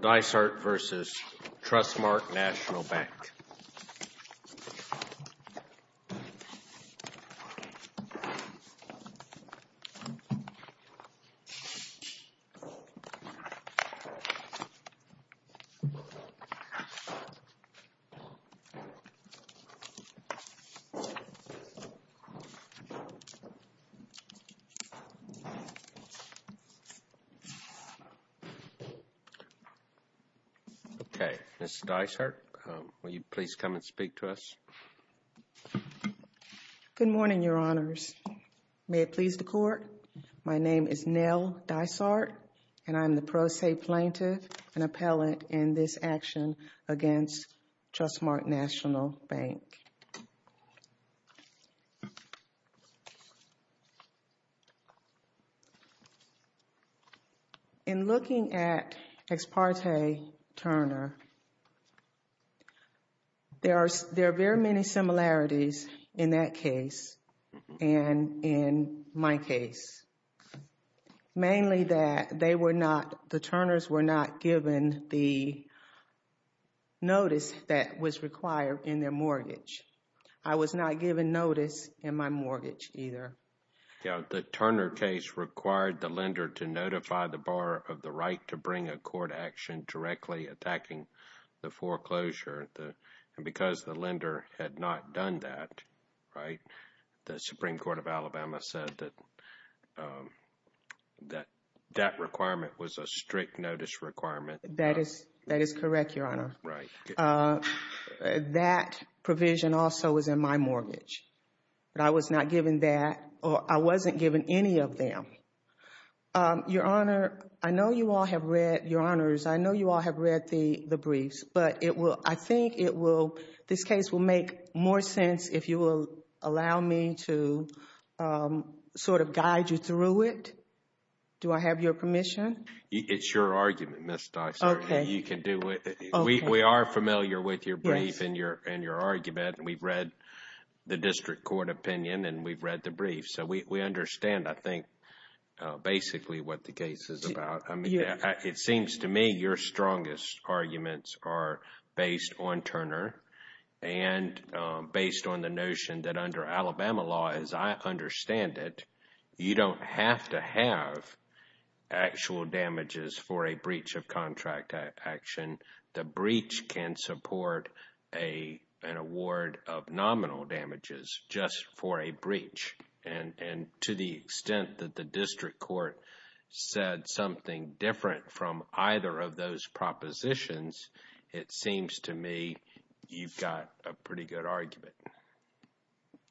Dysart versus Trustmark National Bank. Okay, Ms. Dysart, will you please come and speak to us? Good morning, Your Honors. May it please the Court? My name is Nell Dysart, and I'm the pro se plaintiff and appellate in this action against Trustmark National Bank. In looking at Ex parte Turner, there are very many similarities in that case and in my case, mainly that the Turners were not given the notice that was required in their mortgage. I was not given notice in my mortgage either. The Turner case required the lender to notify the borrower of the right to bring a court action directly attacking the foreclosure, and because the lender had not done that, the Supreme Court of Alabama said that that requirement was a strict notice requirement. That is correct, Your Honor. That provision also was in my mortgage. I was not given that, or I wasn't given any of them. Your Honor, I know you all have read the briefs, but I think this case will make more sense if you will allow me to sort of guide you through it. Do I have your permission? It's your argument, Ms. Dysart, and you can do it. We are familiar with your brief and your argument, and we've read the district court opinion and we've read the brief, so we understand, I think, basically what the case is about. It seems to me your strongest arguments are based on Turner and based on the notion that under Alabama law, as I understand it, you don't have to have actual damages for a breach of contract action. The breach can support an award of nominal damages just for a breach, and to the extent that the district court said something different from either of those propositions, it seems to me you've got a pretty good argument.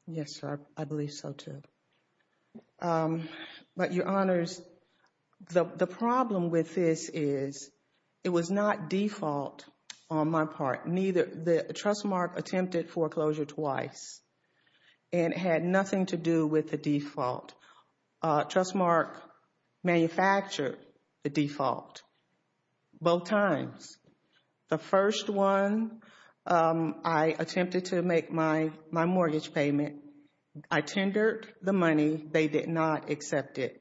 Yes, sir. I believe so, too. But Your Honors, the problem with this is it was not default on my part. The Trustmark attempted foreclosure twice, and it had nothing to do with the default. Trustmark manufactured the default both times. The first one, I attempted to make my mortgage payment. I tendered the money. They did not accept it.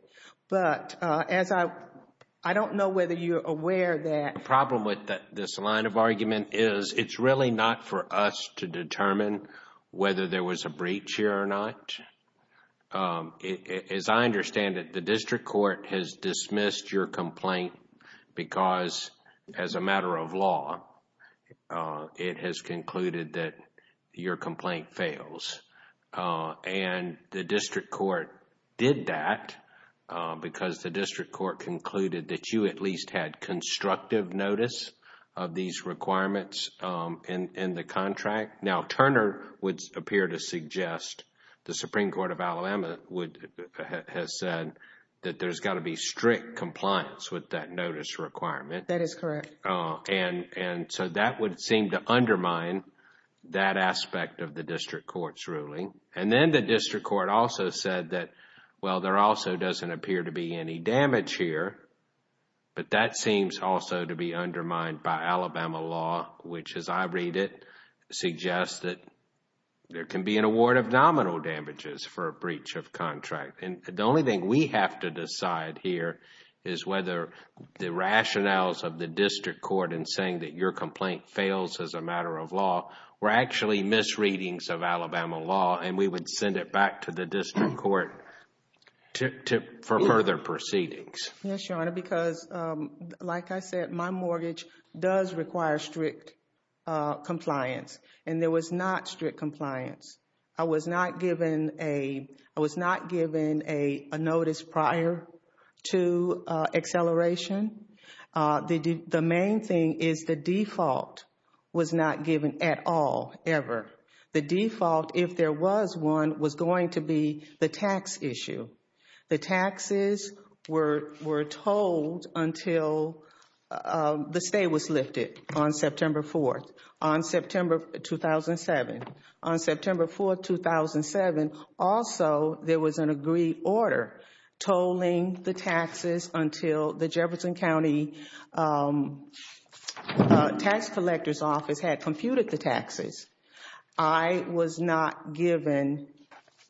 But I don't know whether you're aware that the problem with this line of argument is it's really not for us to determine whether there was a breach here or not. As I understand it, the district court has dismissed your complaint because as a matter of law, it has concluded that your complaint fails. The district court did that because the district court concluded that you at least had constructive notice of these requirements in the contract. Now Turner would appear to suggest, the Supreme Court of Alabama has said that there's got to be strict compliance with that notice requirement. That is correct. That would seem to undermine that aspect of the district court's ruling. Then the district court also said that, well, there also doesn't appear to be any damage here, but that seems also to be undermined by Alabama law, which as I read it, suggests that there can be an award of nominal damages for a breach of contract. The only thing we have to decide here is whether the rationales of the district court in saying that your complaint fails as a matter of law were actually misreadings of Alabama law and we would send it back to the district court for further proceedings. Yes, Your Honor, because like I said, my mortgage does require strict compliance and there was not strict compliance. I was not given a notice prior to acceleration. The main thing is the default was not given at all, ever. The default, if there was one, was going to be the tax issue. The taxes were tolled until the stay was lifted on September 4th, on September 2007. On September 4th, 2007, also there was an agreed order tolling the taxes until the Jefferson County tax collector's office had computed the taxes. I was not given,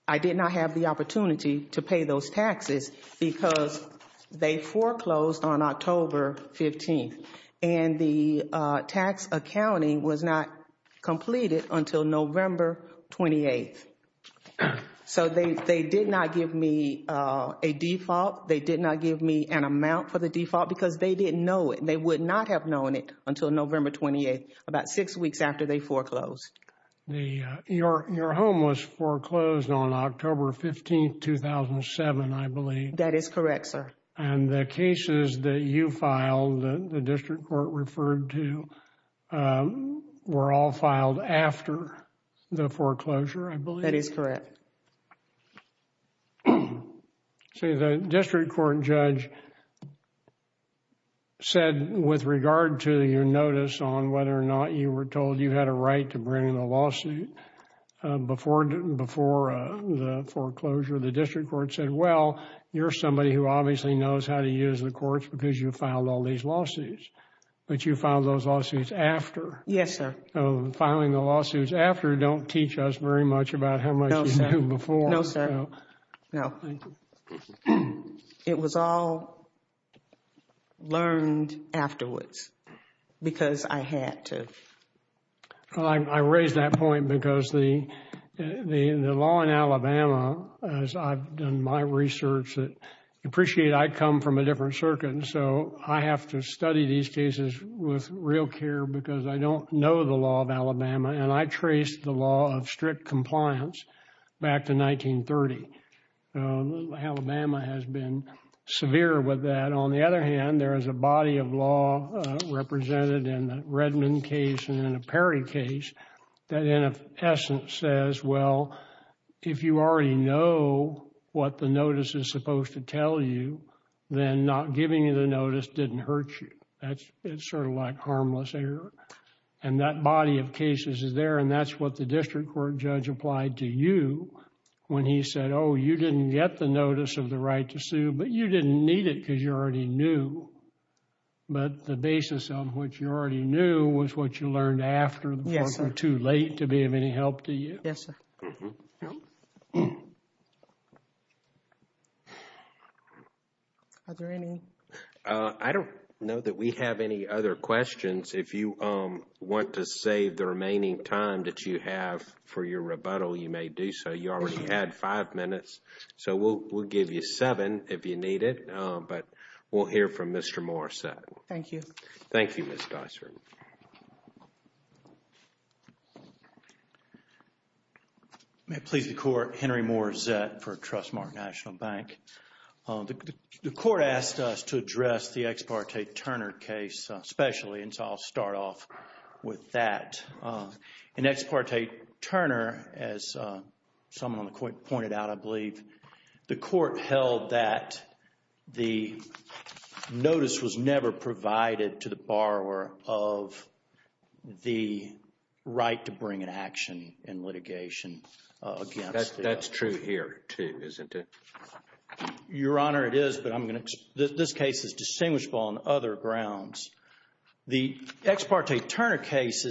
I did not have the opportunity to pay those taxes because they foreclosed on October 15th and the tax accounting was not completed until November 28th. So they did not give me a default. They did not give me an amount for the default because they didn't know it. They would not have known it until November 28th, about six weeks after they foreclosed. Your home was foreclosed on October 15th, 2007, I believe. That is correct, sir. And the cases that you filed, the district court referred to, were all filed after the foreclosure, I believe. That is correct. See, the district court judge said with regard to your notice on whether or not you were told you had a right to bring the lawsuit before the foreclosure, the district court said, well, you're somebody who obviously knows how to use the courts because you filed all these lawsuits, but you filed those lawsuits after. Yes, sir. Filing the lawsuits after don't teach us very much about how much you knew before. No, sir. No. Thank you. It was all learned afterwards because I had to. I raise that point because the law in Alabama, as I've done my research, appreciate I come from a different circuit, so I have to study these cases with real care because I don't know the law of Alabama and I traced the law of strict compliance back to 1930. Alabama has been severe with that. On the other hand, there is a body of law represented in the Redmond case and in the Perry case that in essence says, well, if you already know what the notice is supposed to tell you, then not giving you the notice didn't hurt you. It's sort of like harmless error. And that body of cases is there and that's what the district court judge applied to you when he said, oh, you didn't get the notice of the right to sue, but you didn't need it because you already knew, but the basis of what you already knew was what you learned after the court was too late to be of any help to you. Yes, sir. Are there any? I don't know that we have any other questions. If you want to save the remaining time that you have for your rebuttal, you may do so. You already had five minutes, so we'll give you seven if you need it, but we'll hear from Mr. Morissette. Thank you. Thank you, Ms. Dysart. May it please the Court, Henry Morissette for Trustmark National Bank. The Court asked us to address the Ex parte Turner case especially, and so I'll start off with that. In Ex parte Turner, as someone pointed out, I believe, the Court held that the notice was never provided to the borrower of the right to bring an action in litigation against the other. That's true here, too, isn't it? Your Honor, it is, but this case is distinguishable on other grounds. The Ex parte Turner case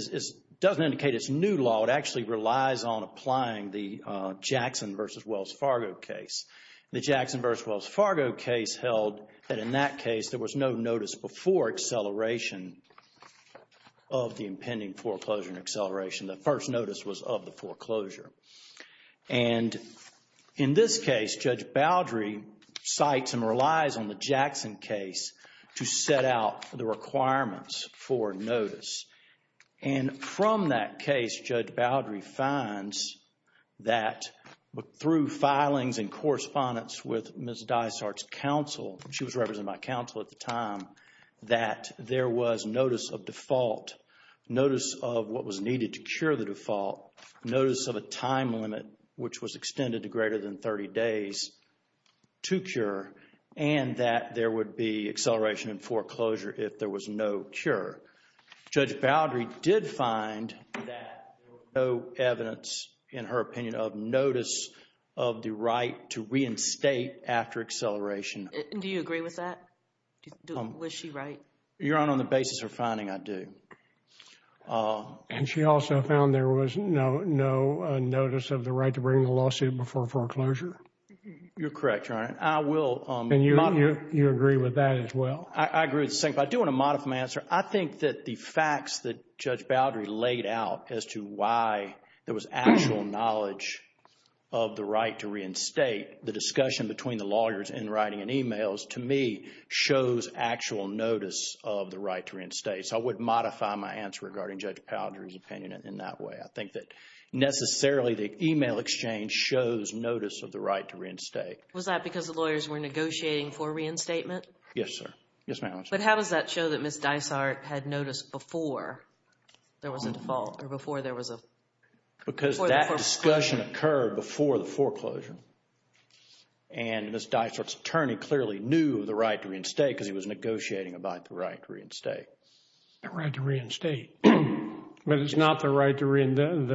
doesn't indicate it's new law. It actually relies on applying the Jackson v. Wells Fargo case. The Jackson v. Wells Fargo case held that in that case, there was no notice before acceleration of the impending foreclosure and acceleration. The first notice was of the foreclosure. In this case, Judge Boudry cites and relies on the Jackson case to set out the requirements for notice. From that case, Judge Boudry finds that through filings and correspondence with Ms. Dysart's counsel, she was represented by counsel at the time, that there was notice of default, notice of what was needed to cure the default, notice of a time limit, which was extended to greater than 30 days, to cure, and that there would be acceleration and foreclosure if there was no cure. Judge Boudry did find that there was no evidence, in her opinion, of notice of the right to reinstate after acceleration. Do you agree with that? Was she right? Your Honor, on the basis of her finding, I do. And she also found there was no notice of the right to bring the lawsuit before foreclosure? You're correct, Your Honor. I will. And you agree with that as well? I agree with the second part. I do want a modified answer. I think that the facts that Judge Boudry laid out as to why there was actual knowledge of the right to reinstate, the discussion between the lawyers in writing and emails, to me, shows actual notice of the right to reinstate. So I would modify my answer regarding Judge Boudry's opinion in that way. I think that necessarily the email exchange shows notice of the right to reinstate. Was that because the lawyers were negotiating for reinstatement? Yes, sir. Yes, ma'am. But how does that show that Ms. Dysart had noticed before there was a default or before there was a foreclosure? Because that discussion occurred before the foreclosure, and Ms. Dysart's attorney clearly knew the right to reinstate because he was negotiating about the right to reinstate. The right to reinstate, but it's not the right to reinstate.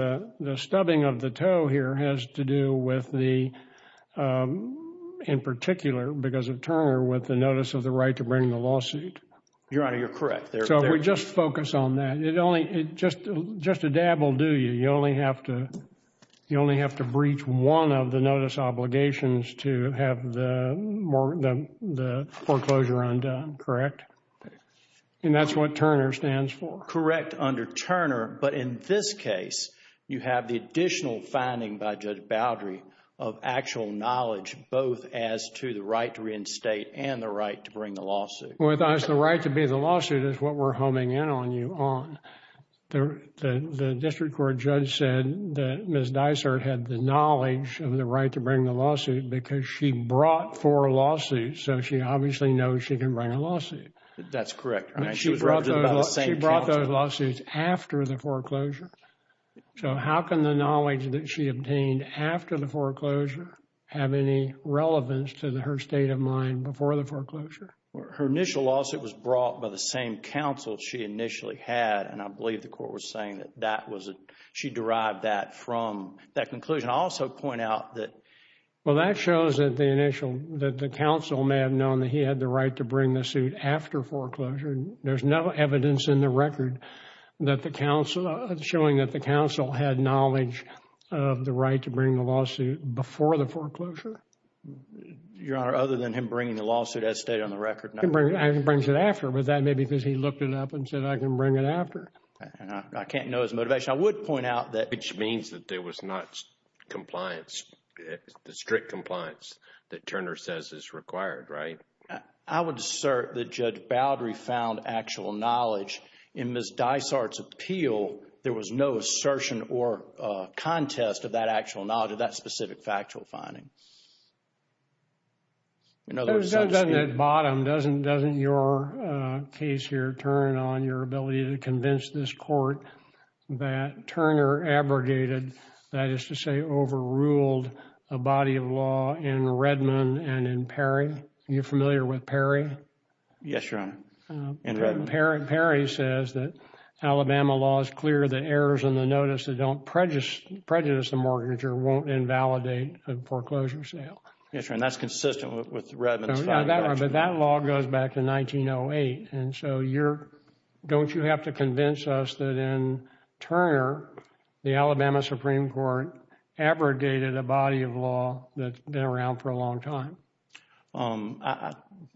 The stubbing of the toe here has to do with the, in particular because of Turner, with the notice of the right to bring the lawsuit. Your Honor, you're correct. So if we just focus on that, it only, just a dab will do you. You only have to, you only have to breach one of the notice obligations to have the foreclosure undone, correct? And that's what Turner stands for. Correct, under Turner. But in this case, you have the additional finding by Judge Boudry of actual knowledge both as to the right to reinstate and the right to bring the lawsuit. With us, the right to bring the lawsuit is what we're homing in on you on. The district court judge said that Ms. Dysart had the knowledge of the right to bring the lawsuit because she brought four lawsuits, so she obviously knows she can bring a lawsuit. That's correct. She brought those lawsuits after the foreclosure. So how can the knowledge that she obtained after the foreclosure have any relevance to her state of mind before the foreclosure? Her initial lawsuit was brought by the same counsel she initially had, and I believe the court was saying that that was, she derived that from that conclusion. I'll also point out that, well, that shows that the initial, that the counsel may have known that he had the right to bring the suit after foreclosure. There's no evidence in the record that the counsel, showing that the counsel had knowledge of the right to bring the lawsuit before the foreclosure. Your Honor, other than him bringing the lawsuit as stated on the record? He brings it after, but that may be because he looked it up and said, I can bring it after. I can't know his motivation. I would point out that. Which means that there was not compliance, the strict compliance that Turner says is required, right? I would assert that Judge Baldry found actual knowledge in Ms. Dysart's appeal. There was no assertion or contest of that actual knowledge, of that specific factual finding. In other words, some state... It was done down at the bottom, doesn't your case here turn on your ability to convince this court that Turner abrogated, that is to say overruled, a body of law in Redmond and in Perry? Yes, Your Honor, in Redmond. Perry says that Alabama law is clear, the errors in the notice that don't prejudice the mortgager won't invalidate a foreclosure sale. Yes, Your Honor, and that's consistent with Redmond's finding. But that law goes back to 1908, and so you're, don't you have to convince us that in Turner, the Alabama Supreme Court abrogated a body of law that's been around for a long time?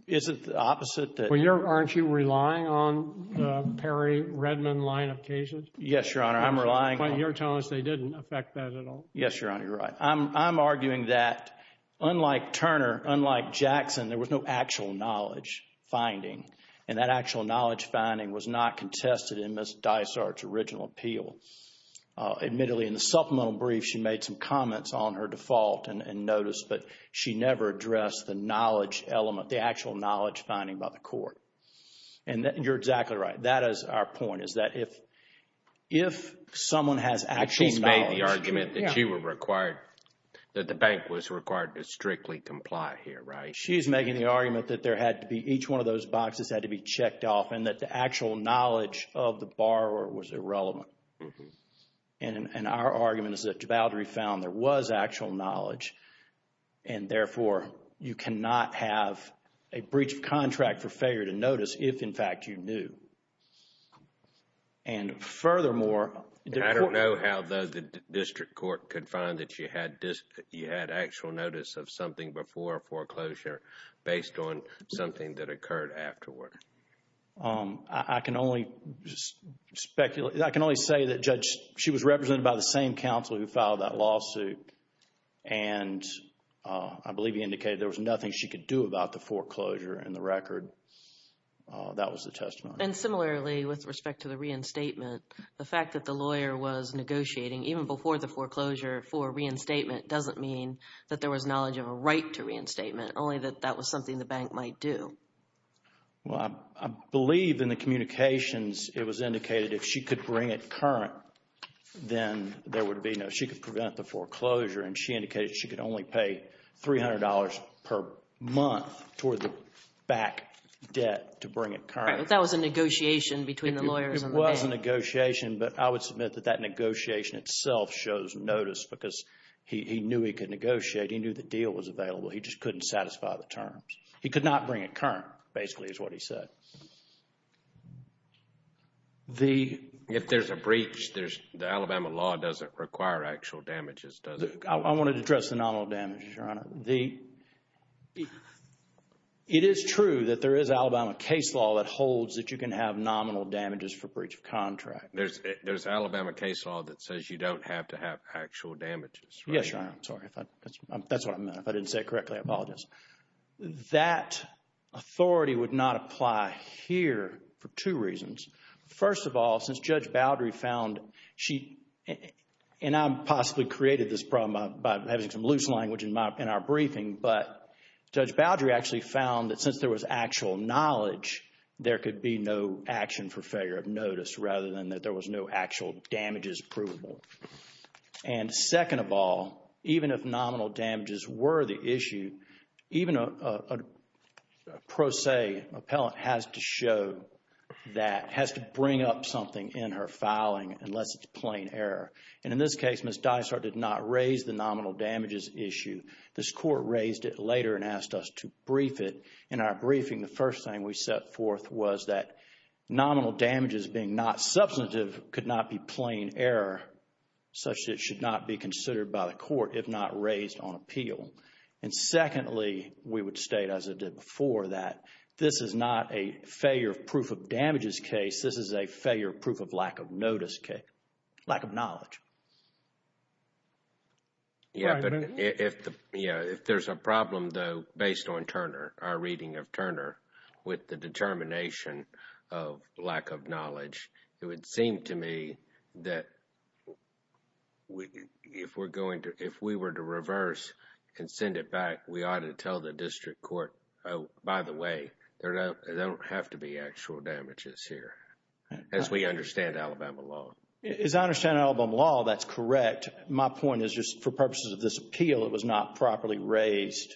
Is it the opposite? Well, you're, aren't you relying on the Perry-Redmond line of cases? Yes, Your Honor. I'm relying on... But you're telling us they didn't affect that at all? Yes, Your Honor. You're right. I'm arguing that unlike Turner, unlike Jackson, there was no actual knowledge finding, and that actual knowledge finding was not contested in Ms. Dysart's original appeal. Admittedly, in the supplemental brief, she made some comments on her default and notice, but she never addressed the knowledge element, the actual knowledge finding by the court. And you're exactly right. That is our point, is that if someone has actual knowledge... She's made the argument that she was required, that the bank was required to strictly comply here, right? She's making the argument that there had to be, each one of those boxes had to be checked off and that the actual knowledge of the borrower was irrelevant. And our argument is that Jabaldi found there was actual knowledge, and therefore, you cannot have a breach of contract for failure to notice if, in fact, you knew. And furthermore... I don't know how, though, the district court could find that you had actual notice of something before foreclosure based on something that occurred afterward. I can only speculate... I can only say that Judge... She was represented by the same counsel who filed that lawsuit, and I believe he indicated there was nothing she could do about the foreclosure in the record. That was the testimony. And similarly, with respect to the reinstatement, the fact that the lawyer was negotiating even before the foreclosure for reinstatement doesn't mean that there was knowledge of a right to reinstatement, only that that was something the bank might do. Well, I believe in the communications it was indicated if she could bring it current, then there would be no... She could prevent the foreclosure, and she indicated she could only pay $300 per month toward the back debt to bring it current. Right, but that was a negotiation between the lawyers and the bank. It was a negotiation, but I would submit that that negotiation itself shows notice because he knew he could negotiate. He knew the deal was available. He just couldn't satisfy the terms. He could not bring it current, basically, is what he said. The... If there's a breach, the Alabama law doesn't require actual damages, does it? I want to address the nominal damages, Your Honor. It is true that there is Alabama case law that holds that you can have nominal damages for breach of contract. There's Alabama case law that says you don't have to have actual damages, right? Yes, Your Honor. I'm sorry. That's what I meant. I didn't say it correctly. I apologize. That authority would not apply here for two reasons. First of all, since Judge Boudry found she... And I possibly created this problem by having some loose language in our briefing, but Judge Boudry actually found that since there was actual knowledge, there could be no action for failure of notice rather than that there was no actual damages provable. And second of all, even if nominal damages were the issue, even a pro se appellant has to show that, has to bring up something in her filing unless it's plain error. And in this case, Ms. Dysart did not raise the nominal damages issue. This court raised it later and asked us to brief it. In our briefing, the first thing we set forth was that nominal damages being not substantive could not be plain error, such that it should not be considered by the court if not raised on appeal. And secondly, we would state, as I did before, that this is not a failure of proof of damages case. This is a failure of proof of lack of notice case, lack of knowledge. Yeah, but if there's a problem, though, based on Turner, our reading of Turner, with the to me that if we're going to, if we were to reverse and send it back, we ought to tell the district court, oh, by the way, there don't have to be actual damages here, as we understand Alabama law. As I understand Alabama law, that's correct. My point is just for purposes of this appeal, it was not properly raised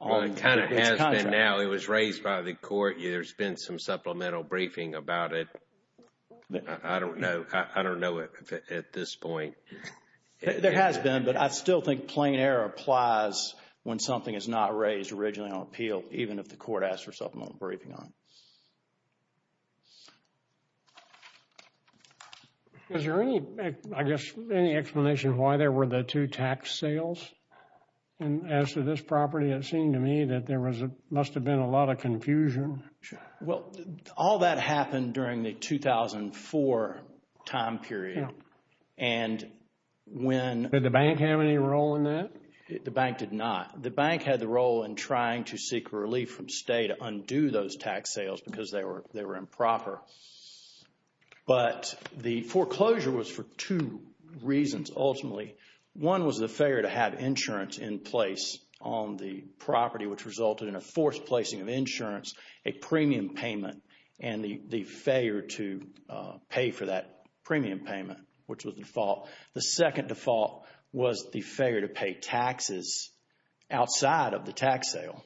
on this contract. Well, it kind of has been now. It was raised by the court. There's been some supplemental briefing about it. I don't know. I don't know if at this point. There has been, but I still think plain error applies when something is not raised originally on appeal, even if the court asks for supplemental briefing on it. Is there any, I guess, any explanation why there were the two tax sales? And as to this property, it seemed to me that there must have been a lot of confusion. Well, all that happened during the 2004 time period. And when... Did the bank have any role in that? The bank did not. The bank had the role in trying to seek relief from state to undo those tax sales because they were improper. But the foreclosure was for two reasons, ultimately. One was the failure to have insurance in place on the property, which resulted in a forced replacing of insurance, a premium payment, and the failure to pay for that premium payment, which was the default. The second default was the failure to pay taxes outside of the tax sale,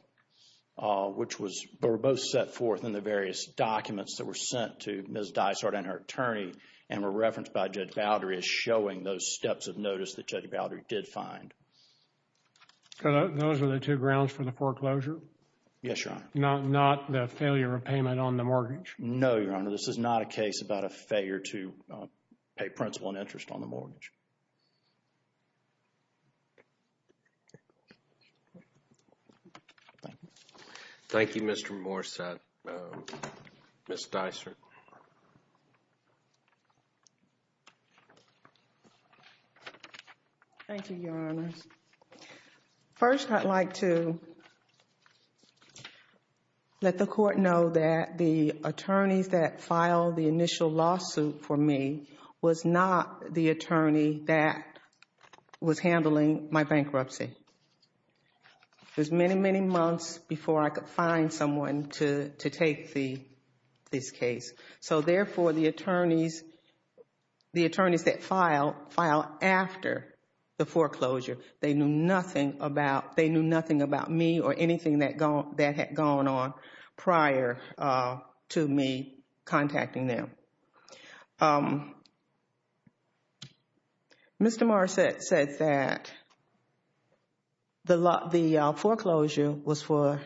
which was... But were both set forth in the various documents that were sent to Ms. Dysart and her attorney and were referenced by Judge Baldry as showing those steps of notice that Judge Baldry did find. So those are the two grounds for the foreclosure? Yes, Your Honor. Not the failure of payment on the mortgage? No, Your Honor. This is not a case about a failure to pay principal and interest on the mortgage. Thank you. Thank you, Mr. Morsad. Ms. Dysart. Thank you, Your Honors. First, I'd like to let the Court know that the attorneys that filed the initial lawsuit for me was not the attorney that was handling my bankruptcy. It was many, many months before I could find someone to take this case. Therefore, the attorneys that filed after the foreclosure, they knew nothing about me or anything that had gone on prior to me contacting them. Mr. Morsad said that the foreclosure was for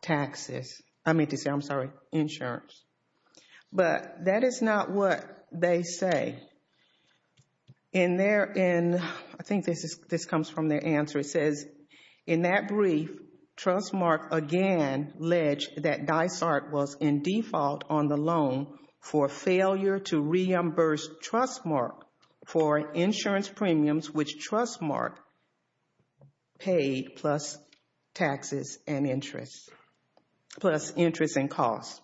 taxes. I mean to say, I'm sorry, insurance. But that is not what they say. In their, I think this comes from their answer, it says, In that brief, Trustmark again alleged that Dysart was in default on the loan for failure to reimburse Trustmark for insurance premiums which Trustmark paid plus taxes and interest, plus interest and costs.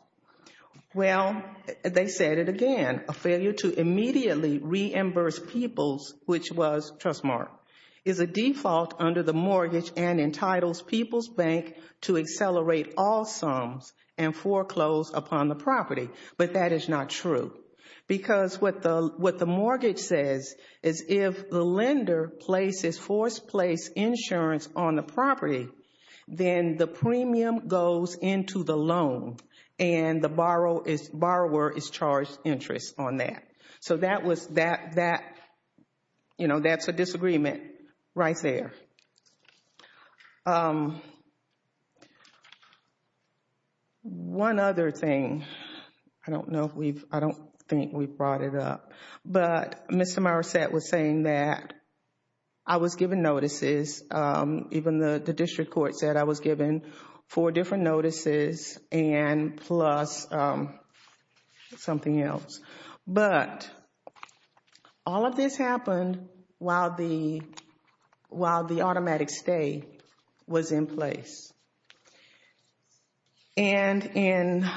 Well, they said it again. A failure to immediately reimburse people's, which was Trustmark, is a default under the mortgage and entitles People's Bank to accelerate all sums and foreclose upon the property. But that is not true. Because what the mortgage says is if the lender places forced place insurance on the property, then the premium goes into the loan and the borrower is charged interest on that. So that was, that, you know, that's a disagreement right there. One other thing, I don't know if we've, I don't think we brought it up, but Mr. Morsad was saying that I was given notices, even the district court said I was given four different notices and plus something else. But all of this happened while the automatic stay was in place. And in,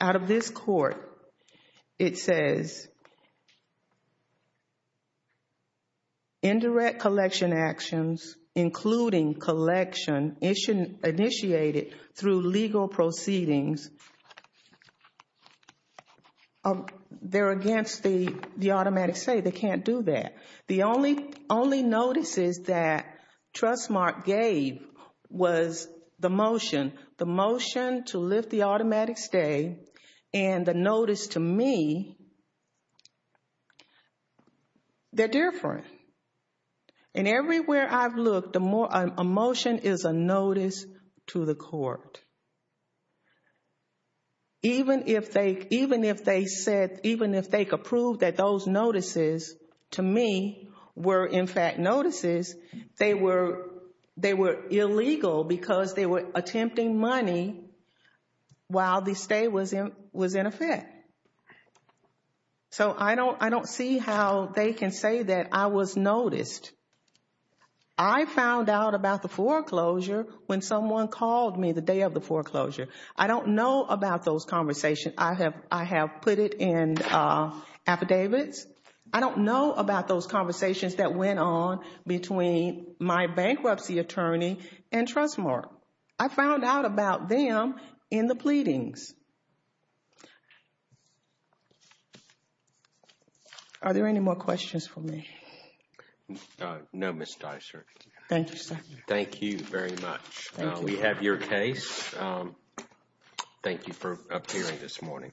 out of this court, it says, indirect collection actions including collection initiated through legal proceedings, they're against the automatic stay. They can't do that. The only notices that Trustmark gave was the motion. The motion to lift the automatic stay and the notice to me, they're different. And everywhere I've looked, a motion is a notice to the court. Even if they, even if they said, even if they could prove that those notices to me were in fact notices, they were, they were illegal because they were attempting money while the stay was in effect. So I don't, I don't see how they can say that I was noticed. I found out about the foreclosure when someone called me the day of the foreclosure. I don't know about those conversations. I have, I have put it in affidavits. I don't know about those conversations that went on between my bankruptcy attorney and Trustmark. I found out about them in the pleadings. Are there any more questions for me? No, Ms. Dicer. Thank you, sir. Thank you very much. We have your case. Thank you for appearing this morning.